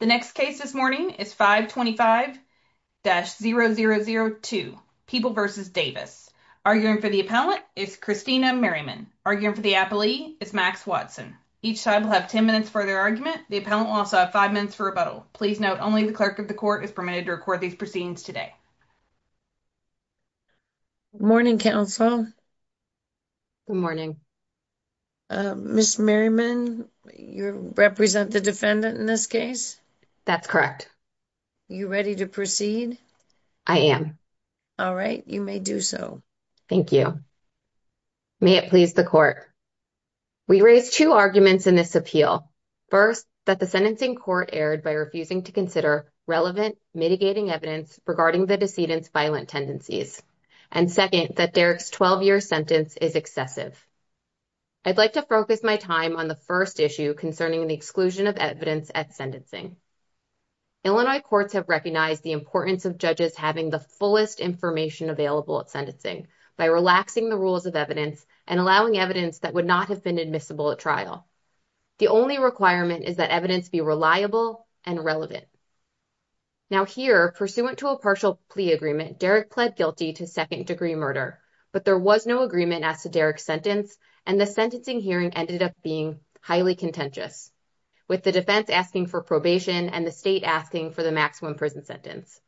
The next case this morning is 525-0002 People v. Davis. Arguing for the appellant is Christina Merriman. Arguing for the appellee is Max Watson. Each side will have 10 minutes for their argument. The appellant will also have 5 minutes for rebuttal. Please note, only the clerk of the court is permitted to record these proceedings today. Morning counsel. Good morning. Ms. Merriman, you represent the defendant in this case? That's correct. You ready to proceed? I am. All right, you may do so. Thank you. May it please the court. We raised 2 arguments in this appeal. First, that the sentencing court erred by refusing to consider relevant mitigating evidence regarding the decedent's violent tendencies. And second, that Derrick's 12-year sentence is excessive. I'd like to focus my time on the first issue concerning the exclusion of evidence at sentencing. Illinois courts have recognized the importance of judges having the fullest information available at sentencing by relaxing the rules of evidence and allowing evidence that would not have been admissible at trial. The only requirement is that evidence be reliable and relevant. Now here, pursuant to a partial plea agreement, Derrick pled guilty to second-degree murder, but there was no agreement as to Derrick's sentence, and the sentencing hearing ended up being highly contentious, with the defense asking for probation and the state asking for the maximum prison sentence.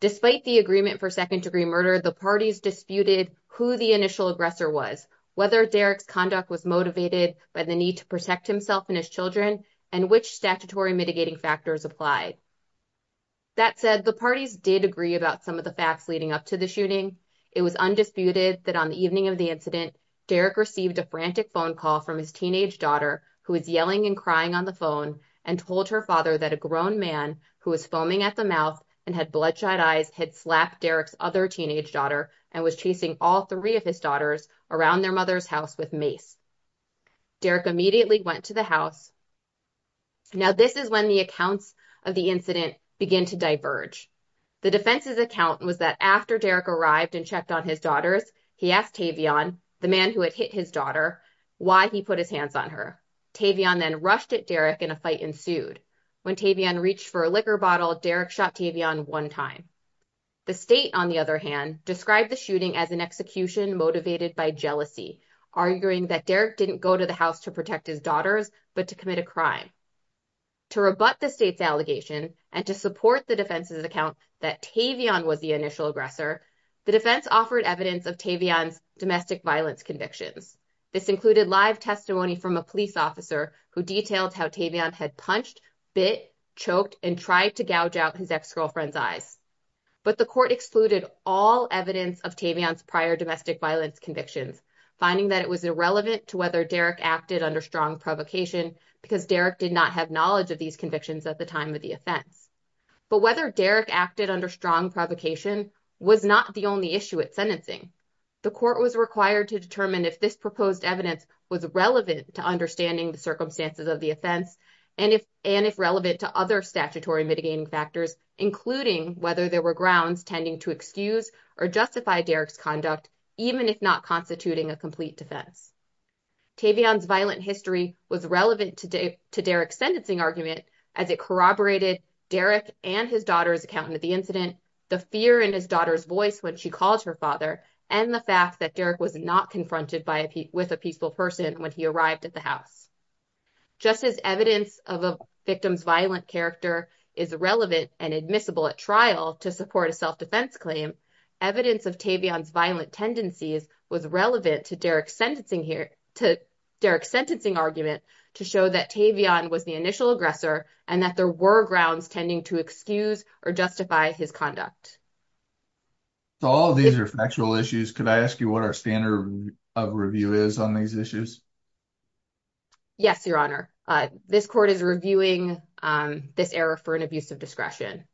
Despite the agreement for second-degree murder, the parties disputed who the initial aggressor was, whether Derrick's conduct was motivated by the need to protect himself and his children, and which statutory mitigating factors applied. That said, the parties did agree about some of the facts leading up to the shooting. It was undisputed that on the evening of the incident, Derrick received a frantic phone call from his teenage daughter, who was yelling and crying on the phone, and told her father that a grown man, who was foaming at the mouth and had bloodshot eyes, had slapped Derrick's other teenage daughter and was chasing all three of his daughters around their mother's house with mace. Derrick immediately went to the house. Now this is when the accounts of the incident begin to diverge. The defense's account was that after Derrick arrived and checked on his daughters, he asked Tavion, the man who had hit his daughter, why he put his hands on her. Tavion then rushed at Derrick, and a fight ensued. When Tavion reached for a liquor bottle, Derrick shot Tavion one time. The state, on the other hand, described the shooting as an execution motivated by jealousy, arguing that Derrick didn't go to the house to protect his daughters, but to commit a crime. To rebut the state's allegation, and to support the defense's account that Tavion was the initial aggressor, the defense offered evidence of Tavion's domestic violence convictions. This included live testimony from a police officer who detailed how Tavion had punched, bit, choked, and tried to gouge out his ex-girlfriend's eyes. But the court excluded all evidence of Tavion's prior domestic violence convictions, finding that it was irrelevant to whether Derrick acted under strong provocation, because Derrick did not have knowledge of these convictions at the time of the offense. But whether Derrick acted under strong provocation was not the only issue at sentencing. The court was required to determine if this proposed evidence was relevant to understanding the circumstances of the offense, and if relevant to other statutory mitigating factors, including whether there were grounds tending to excuse or justify Derrick's conduct, even if not constituting a complete defense. Tavion's violent history was relevant to Derrick's sentencing argument, as it corroborated Derrick and his daughter's account of the incident, the fear in his daughter's voice when she called her father, and the fact that Derrick was not confronted with a peaceful person when he arrived at the house. Just as evidence of a victim's violent character is relevant and admissible at trial to support a self-defense claim, evidence of Tavion's violent tendencies was relevant to Derrick's sentencing argument to show that Tavion was the initial aggressor and that there were grounds tending to excuse or justify his conduct. So all of these are factual issues. Could I ask you what our standard of review is on these issues? Yes, Your Honor. This court is reviewing this error for an abuse of discretion.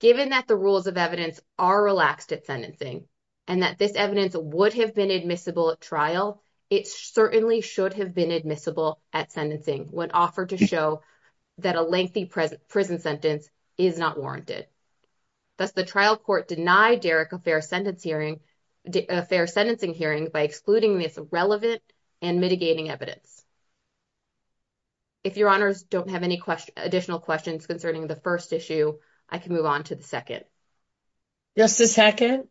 Given that the rules of evidence are relaxed at sentencing and that this evidence would have been admissible at trial, it certainly should have been admissible at sentencing when offered to show that a lengthy prison sentence is not warranted. Thus, the trial court denied Derrick a fair sentencing hearing by excluding this relevant and mitigating evidence. If Your Honors don't have any additional questions concerning the first issue, I can move on to the second. Justice Hackett?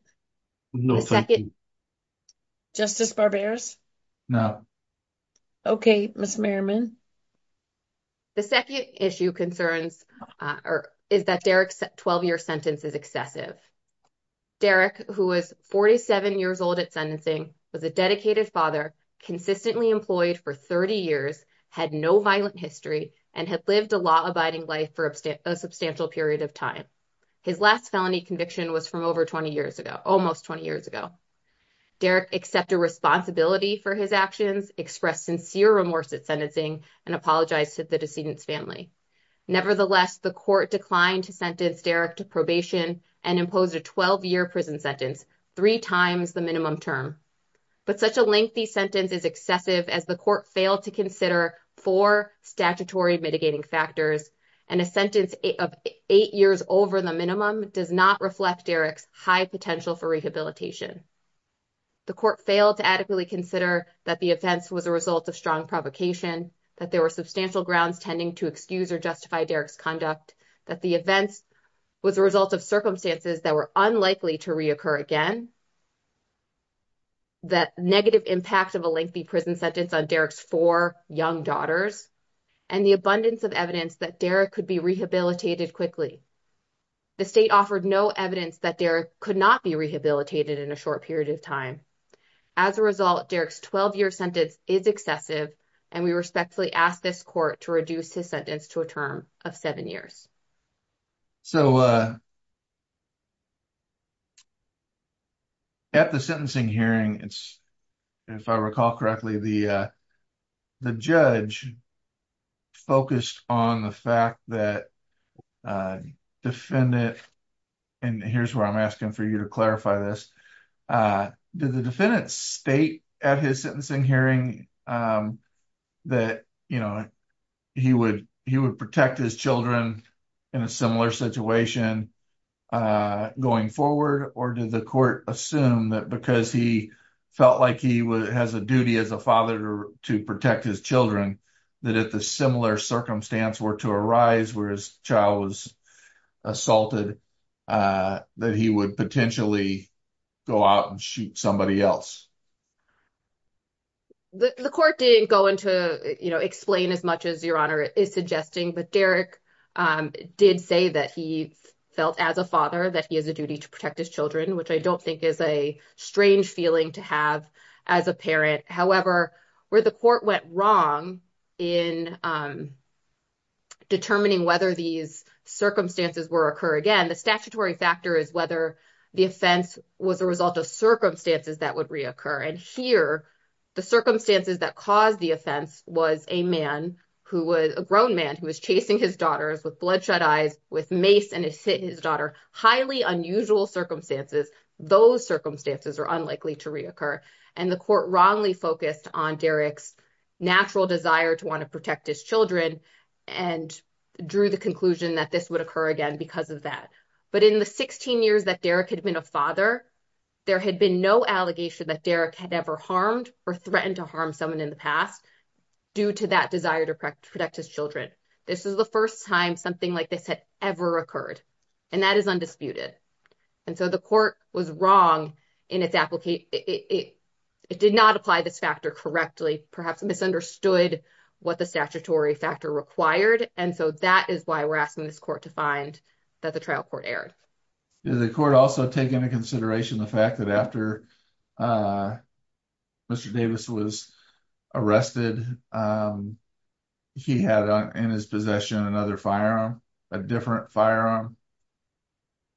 No, thank you. Justice Barberis? No. Okay, Ms. Merriman? The second issue concerns or is that Derrick's 12-year sentence is excessive. Derrick, who was 47 years old at sentencing, was a dedicated father, consistently employed for 30 years, had no violent history, and had lived a law-abiding life for a substantial period of time. His last felony conviction was from over 20 years ago, almost 20 years ago. Derrick accepted responsibility for his actions, expressed sincere remorse at sentencing, and apologized to the decedent's family. Nevertheless, the court declined to sentence Derrick to probation and imposed a 12-year prison sentence, three times the minimum term. But such a lengthy sentence is excessive as the court failed to consider four statutory mitigating factors, and a sentence of eight years over the minimum does not reflect Derrick's high potential for rehabilitation. The court failed to adequately consider that the offense was a result of strong provocation, that there were substantial grounds tending to excuse or justify Derrick's conduct, that the offense was a result of circumstances that were unlikely to reoccur again. That negative impact of a lengthy prison sentence on Derrick's four young daughters, and the abundance of evidence that Derrick could be rehabilitated quickly. The state offered no evidence that Derrick could not be rehabilitated in a short period of time. As a result, Derrick's 12-year sentence is excessive, and we respectfully ask this court to reduce his sentence to a term of seven years. So, at the sentencing hearing, if I recall correctly, the judge focused on the fact that the defendant, and here's where I'm asking for you to clarify this, did the defendant state at his sentencing hearing that he would protect his children in a similar situation going forward? Or did the court assume that because he felt like he has a duty as a father to protect his children, that if a similar circumstance were to arise where his child was assaulted, that he would potentially go out and shoot somebody else? The court didn't go into, you know, explain as much as Your Honor is suggesting, but Derrick did say that he felt as a father that he has a duty to protect his children, which I don't think is a strange feeling to have as a parent. However, where the court went wrong in determining whether these circumstances were to occur again, the statutory factor is whether the offense was a result of circumstances that would reoccur. And here, the circumstances that caused the offense was a grown man who was chasing his daughters with bloodshot eyes, with mace, and had hit his daughter. These are highly unusual circumstances. Those circumstances are unlikely to reoccur. And the court wrongly focused on Derrick's natural desire to want to protect his children and drew the conclusion that this would occur again because of that. But in the 16 years that Derrick had been a father, there had been no allegation that Derrick had ever harmed or threatened to harm someone in the past due to that desire to protect his children. This is the first time something like this had ever occurred, and that is undisputed. And so the court was wrong in its application. It did not apply this factor correctly, perhaps misunderstood what the statutory factor required, and so that is why we're asking this court to find that the trial court erred. Did the court also take into consideration the fact that after Mr. Davis was arrested, he had in his possession another firearm, a different firearm?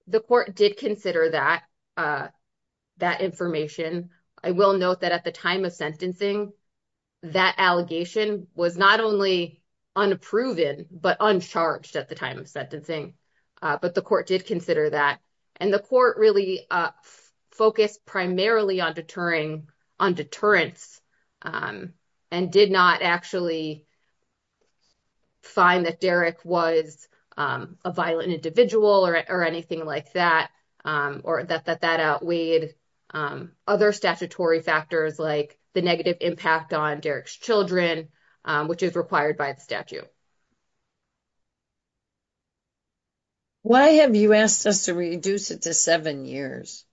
The court did consider that information. I will note that at the time of sentencing, that allegation was not only unproven but uncharged at the time of sentencing, but the court did consider that. And the court really focused primarily on deterrence and did not actually find that Derrick was a violent individual or anything like that, or that that outweighed other statutory factors like the negative impact on Derrick's children, which is required by the statute. Why have you asked us to reduce it to seven years?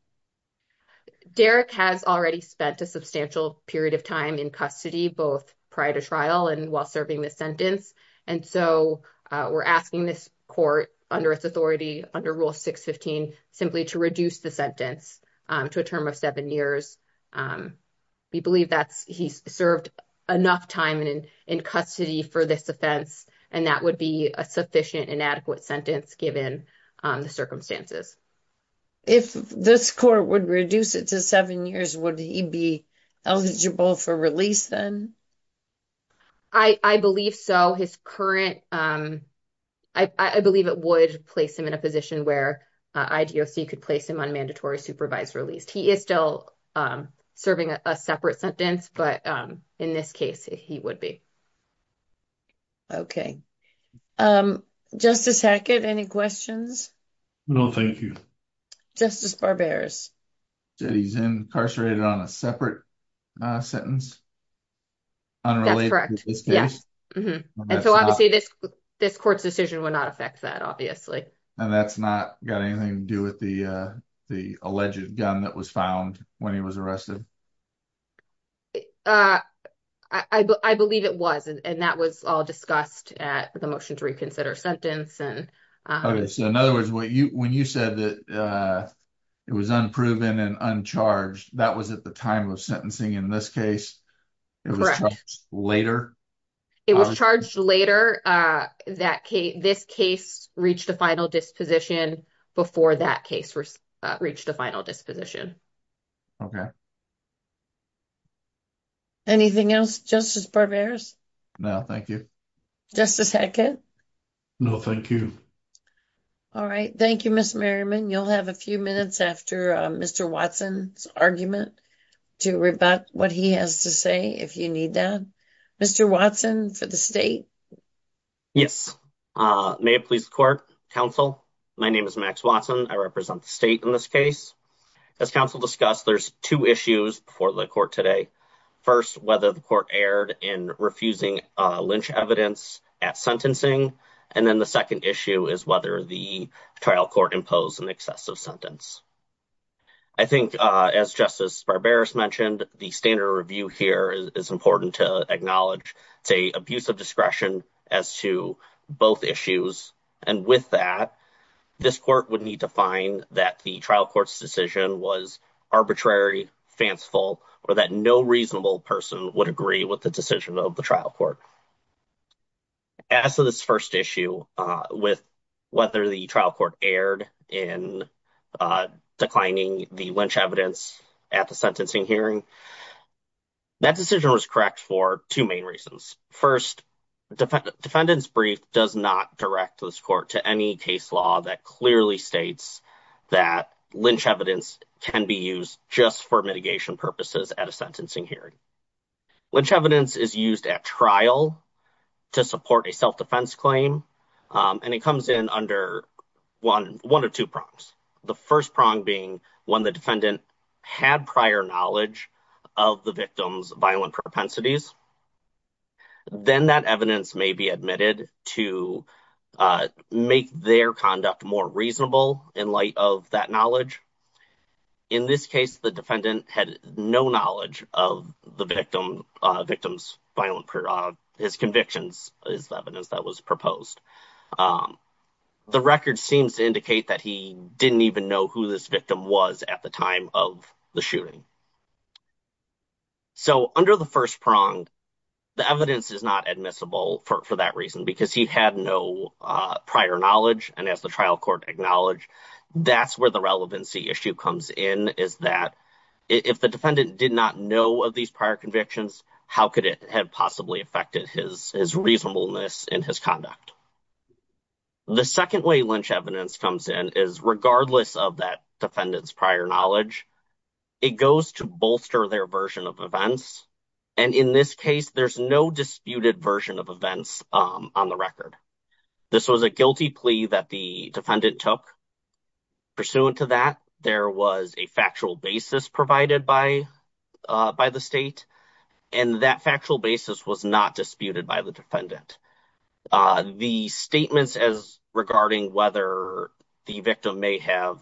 Derrick has already spent a substantial period of time in custody, both prior to trial and while serving the sentence. And so we're asking this court under its authority under Rule 615 simply to reduce the sentence to a term of seven years. We believe that he served enough time in custody for this offense, and that would be a sufficient and adequate sentence given the circumstances. If this court would reduce it to seven years, would he be eligible for release then? I believe so. His current, I believe it would place him in a position where IDOC could place him on mandatory supervised release. He is still serving a separate sentence, but in this case, he would be. Okay. Justice Hackett, any questions? No, thank you. Justice Barbers. He's incarcerated on a separate sentence? That's correct. And so obviously this court's decision would not affect that, obviously. And that's not got anything to do with the alleged gun that was found when he was arrested? I believe it was, and that was all discussed at the motion to reconsider sentence. Okay, so in other words, when you said that it was unproven and uncharged, that was at the time of sentencing in this case? Correct. It was charged later? It was charged later. This case reached a final disposition before that case reached a final disposition. Okay. Anything else, Justice Barbers? No, thank you. Justice Hackett? No, thank you. All right. Thank you, Ms. Merriman. You'll have a few minutes after Mr. Watson's argument to rebut what he has to say, if you need that. Mr. Watson, for the state? Yes. May it please the court, counsel? My name is Max Watson. I represent the state in this case. As counsel discussed, there's two issues for the court today. First, whether the court erred in refusing lynch evidence at sentencing. And then the second issue is whether the trial court imposed an excessive sentence. I think, as Justice Barberis mentioned, the standard review here is important to acknowledge. It's an abuse of discretion as to both issues. And with that, this court would need to find that the trial court's decision was arbitrary, fanciful, or that no reasonable person would agree with the decision of the trial court. As to this first issue with whether the trial court erred in declining the lynch evidence at the sentencing hearing, that decision was correct for two main reasons. First, defendant's brief does not direct this court to any case law that clearly states that lynch evidence can be used just for mitigation purposes at a sentencing hearing. Lynch evidence is used at trial to support a self-defense claim, and it comes in under one of two prongs. The first prong being when the defendant had prior knowledge of the victim's violent propensities. Then that evidence may be admitted to make their conduct more reasonable in light of that knowledge. In this case, the defendant had no knowledge of the victim's violent prerogative. His convictions is the evidence that was proposed. The record seems to indicate that he didn't even know who this victim was at the time of the shooting. So, under the first prong, the evidence is not admissible for that reason because he had no prior knowledge. And as the trial court acknowledged, that's where the relevancy issue comes in, is that if the defendant did not know of these prior convictions, how could it have possibly affected his reasonableness in his conduct? The second way lynch evidence comes in is regardless of that defendant's prior knowledge, it goes to bolster their version of events. And in this case, there's no disputed version of events on the record. This was a guilty plea that the defendant took. Pursuant to that, there was a factual basis provided by the state, and that factual basis was not disputed by the defendant. The statements regarding whether the victim may have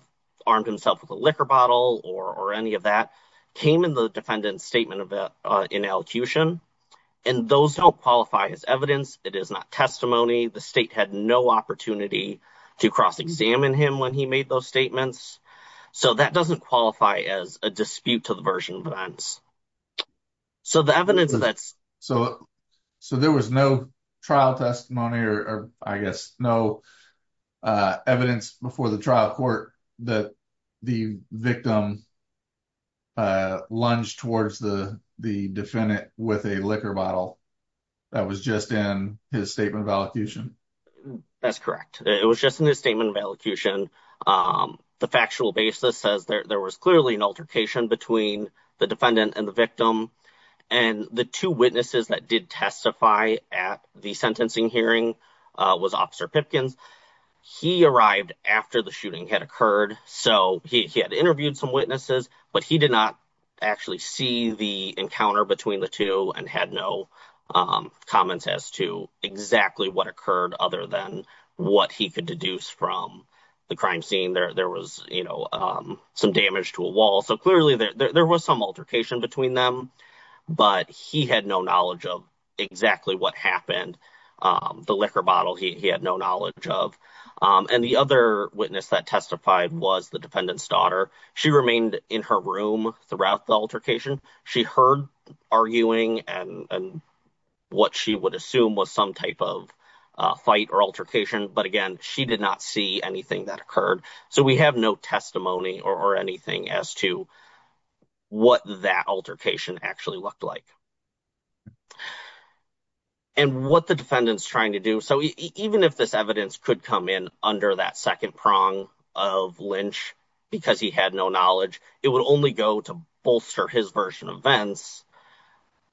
armed himself with a liquor bottle or any of that came in the defendant's statement in elocution. And those don't qualify as evidence. It is not testimony. The state had no opportunity to cross-examine him when he made those statements. So, that doesn't qualify as a dispute to the version of events. So, the evidence that's... So, there was no trial testimony, or I guess no evidence before the trial court that the victim lunged towards the defendant with a liquor bottle. That was just in his statement of elocution? That's correct. It was just in his statement of elocution. The factual basis says there was clearly an altercation between the defendant and the victim. And the two witnesses that did testify at the sentencing hearing was Officer Pipkins. He arrived after the shooting had occurred, so he had interviewed some witnesses, but he did not actually see the encounter between the two and had no comments as to exactly what occurred other than what he could deduce from the crime scene. There was, you know, some damage to a wall. So, clearly, there was some altercation between them, but he had no knowledge of exactly what happened. The liquor bottle, he had no knowledge of. And the other witness that testified was the defendant's daughter. She remained in her room throughout the altercation. She heard arguing and what she would assume was some type of fight or altercation, but again, she did not see anything that occurred. So, we have no testimony or anything as to what that altercation actually looked like. And what the defendant's trying to do, so even if this evidence could come in under that second prong of Lynch, because he had no knowledge, it would only go to bolster his version of events.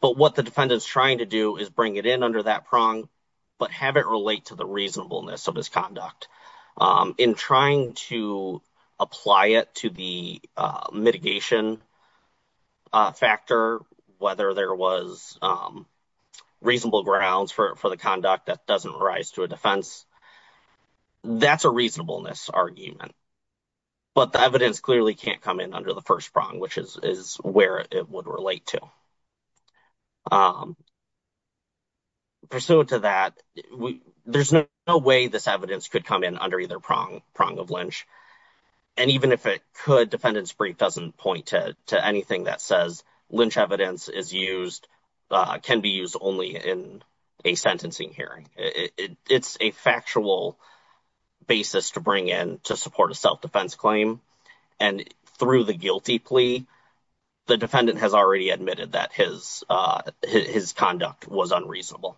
But what the defendant's trying to do is bring it in under that prong, but have it relate to the reasonableness of his conduct. In trying to apply it to the mitigation factor, whether there was reasonable grounds for the conduct that doesn't rise to a defense, that's a reasonableness argument. But the evidence clearly can't come in under the first prong, which is where it would relate to. Pursuant to that, there's no way this evidence could come in under either prong of Lynch. And even if it could, defendant's brief doesn't point to anything that says Lynch evidence is used, can be used only in a sentencing hearing. It's a factual basis to bring in to support a self-defense claim. And through the guilty plea, the defendant has already admitted that his conduct was unreasonable.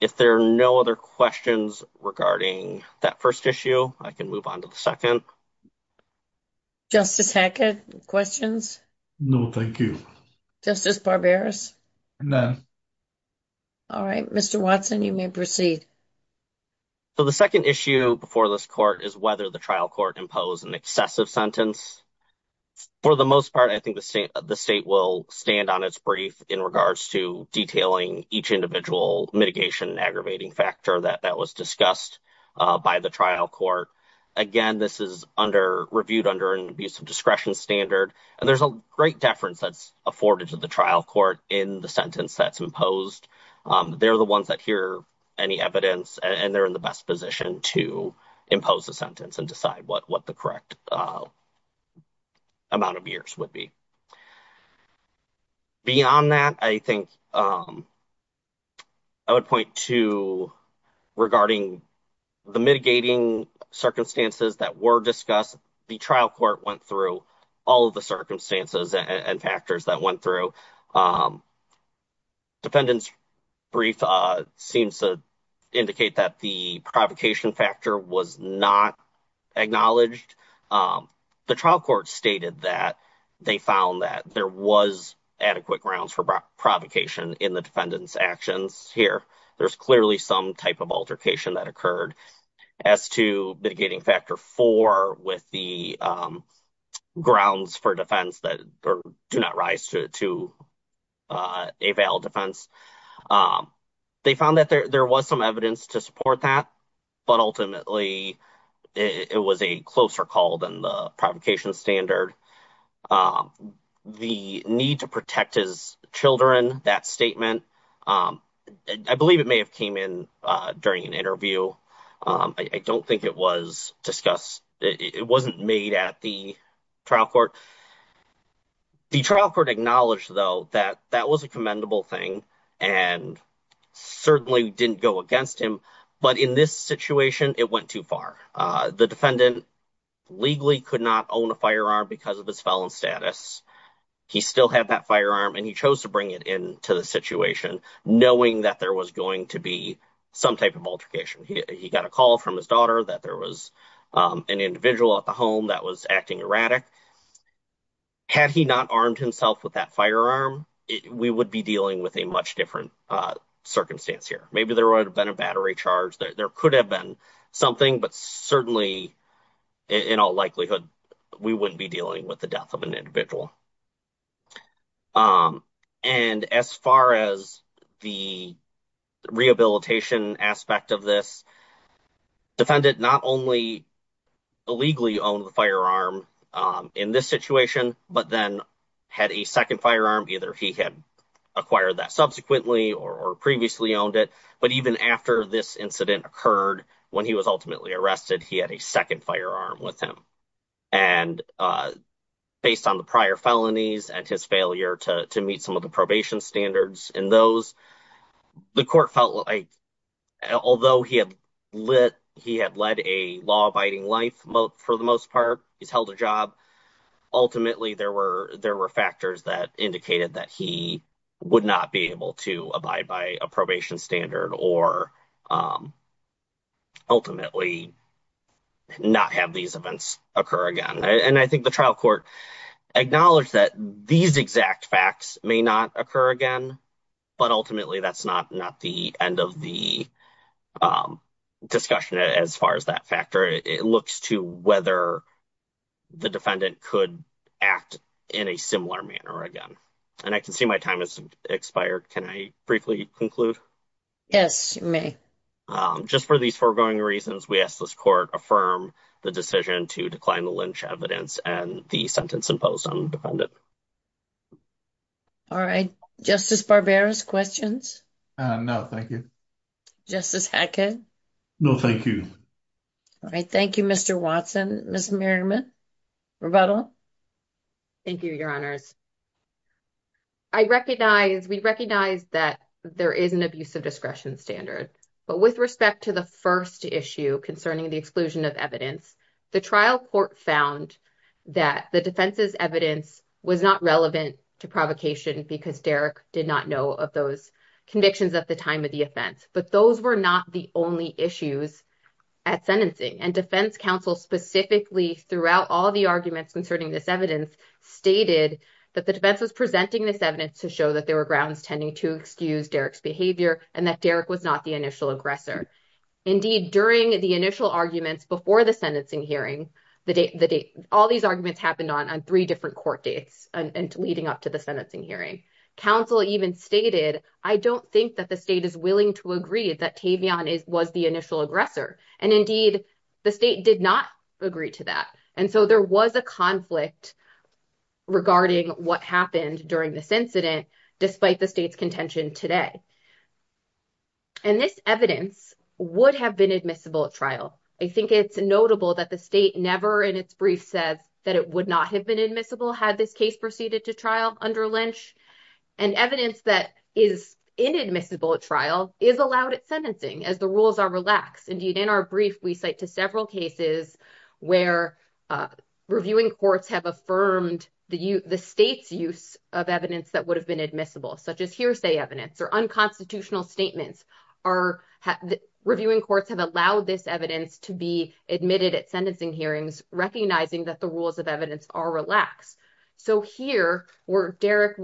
If there are no other questions regarding that first issue, I can move on to the second. Justice Hackett, questions? No, thank you. Justice Barberis? None. All right, Mr. Watson, you may proceed. So the second issue before this court is whether the trial court imposed an excessive sentence. For the most part, I think the state will stand on its brief in regards to detailing each individual mitigation and aggravating factor that was discussed by the trial court. Again, this is reviewed under an abuse of discretion standard, and there's a great deference that's afforded to the trial court in the sentence that's imposed. They're the ones that hear any evidence, and they're in the best position to impose a sentence and decide what the correct amount of years would be. Beyond that, I think I would point to, regarding the mitigating circumstances that were discussed, the trial court went through all of the circumstances and factors that went through. Defendant's brief seems to indicate that the provocation factor was not acknowledged. The trial court stated that they found that there was adequate grounds for provocation in the defendant's actions. Here, there's clearly some type of altercation that occurred as to mitigating factor four with the grounds for defense that do not rise to a valid defense. They found that there was some evidence to support that, but ultimately, it was a closer call than the provocation standard. The need to protect his children, that statement, I believe it may have came in during an interview. I don't think it was discussed. It wasn't made at the trial court. The trial court acknowledged, though, that that was a commendable thing and certainly didn't go against him, but in this situation, it went too far. The defendant legally could not own a firearm because of his felon status. He still had that firearm, and he chose to bring it into the situation knowing that there was going to be some type of altercation. He got a call from his daughter that there was an individual at the home that was acting erratic. Had he not armed himself with that firearm, we would be dealing with a much different circumstance here. Maybe there would have been a battery charge. There could have been something, but certainly, in all likelihood, we wouldn't be dealing with the death of an individual. And as far as the rehabilitation aspect of this, the defendant not only illegally owned the firearm in this situation, but then had a second firearm. Either he had acquired that subsequently or previously owned it, but even after this incident occurred, when he was ultimately arrested, he had a second firearm with him. And based on the prior felonies and his failure to meet some of the probation standards in those, the court felt like, although he had led a law-abiding life, for the most part, he's held a job. Ultimately, there were factors that indicated that he would not be able to abide by a probation standard or ultimately not have these events occur again. And I think the trial court acknowledged that these exact facts may not occur again, but ultimately, that's not the end of the discussion as far as that factor. It looks to whether the defendant could act in a similar manner again. And I can see my time has expired. Can I briefly conclude? Yes, you may. Just for these foregoing reasons, we ask this court affirm the decision to decline the lynch evidence and the sentence imposed on the defendant. All right. Justice Barbera, questions? No, thank you. Justice Hackett? No, thank you. All right. Thank you, Mr. Watson. Ms. Merriman, rebuttal? Thank you, Your Honors. I recognize, we recognize that there is an abuse of discretion standard, but with respect to the first issue concerning the exclusion of evidence, the trial court found that the defense's evidence was not relevant to provocation because Derek did not know of those convictions at the time of the offense. But those were not the only issues at sentencing. And defense counsel specifically throughout all the arguments concerning this evidence stated that the defense was presenting this evidence to show that there were grounds tending to excuse Derek's behavior and that Derek was not the initial aggressor. Indeed, during the initial arguments before the sentencing hearing, all these arguments happened on three different court dates leading up to the sentencing hearing. Counsel even stated, I don't think that the state is willing to agree that Tavion was the initial aggressor. And indeed, the state did not agree to that. And so there was a conflict regarding what happened during this incident, despite the state's contention today. And this evidence would have been admissible at trial. I think it's notable that the state never in its brief said that it would not have been admissible had this case proceeded to trial under Lynch. And evidence that is inadmissible at trial is allowed at sentencing as the rules are relaxed. Indeed, in our brief, we cite to several cases where reviewing courts have affirmed the state's use of evidence that would have been admissible, such as hearsay evidence or unconstitutional statements. Reviewing courts have allowed this evidence to be admitted at sentencing hearings, recognizing that the rules of evidence are relaxed. So here, where Derek's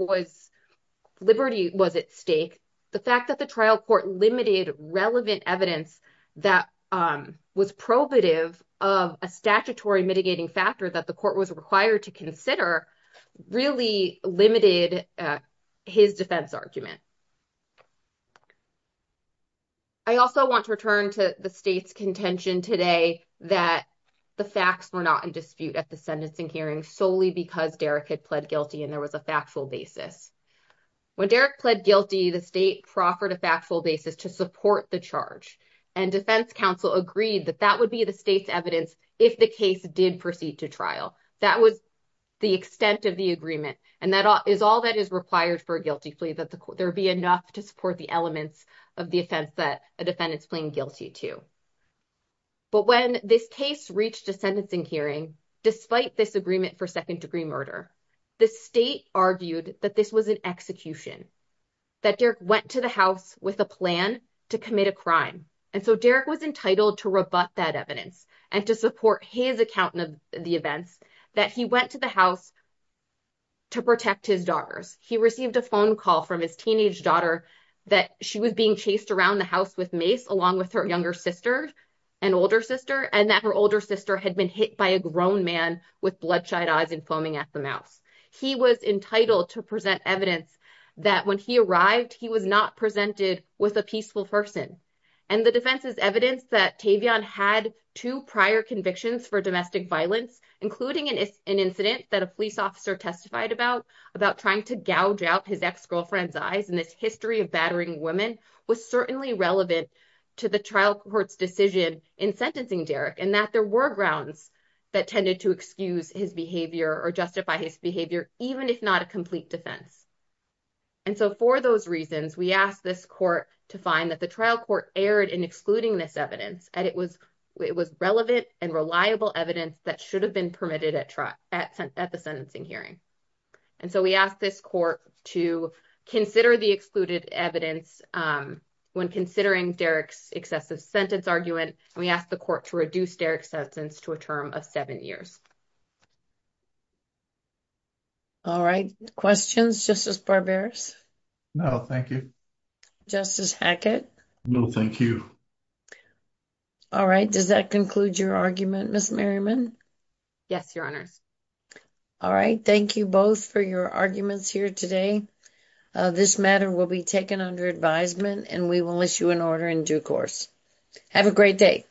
liberty was at stake, the fact that the trial court limited relevant evidence that was probative of a statutory mitigating factor that the court was required to consider really limited his defense argument. I also want to return to the state's contention today that the facts were not in dispute at the sentencing hearing solely because Derek had pled guilty and there was a factual basis. When Derek pled guilty, the state proffered a factual basis to support the charge. And defense counsel agreed that that would be the state's evidence if the case did proceed to trial. That was the extent of the agreement, and that is all that is required for a guilty plea, that there be enough to support the elements of the offense that a defendant's pleading guilty to. But when this case reached a sentencing hearing, despite this agreement for second degree murder, the state argued that this was an execution. That Derek went to the house with a plan to commit a crime. And so Derek was entitled to rebut that evidence and to support his account of the events that he went to the house to protect his daughters. He received a phone call from his teenage daughter that she was being chased around the house with mace along with her younger sister and older sister, and that her older sister had been hit by a grown man with bloodshot eyes and foaming at the mouth. He was entitled to present evidence that when he arrived, he was not presented with a peaceful person. And the defense's evidence that Tavion had two prior convictions for domestic violence, including an incident that a police officer testified about, about trying to gouge out his ex-girlfriend's eyes. And this history of battering women was certainly relevant to the trial court's decision in sentencing Derek, and that there were grounds that tended to excuse his behavior or justify his behavior, even if not a complete defense. And so for those reasons, we asked this court to find that the trial court erred in excluding this evidence, and it was relevant and reliable evidence that should have been permitted at the sentencing hearing. And so we asked this court to consider the excluded evidence when considering Derek's excessive sentence argument, and we asked the court to reduce Derek's sentence to a term of seven years. All right, questions, Justice Barberis? No, thank you. Justice Hackett? No, thank you. All right, does that conclude your argument, Ms. Merriman? Yes, Your Honors. All right, thank you both for your arguments here today. This matter will be taken under advisement, and we will issue an order in due course. Have a great day.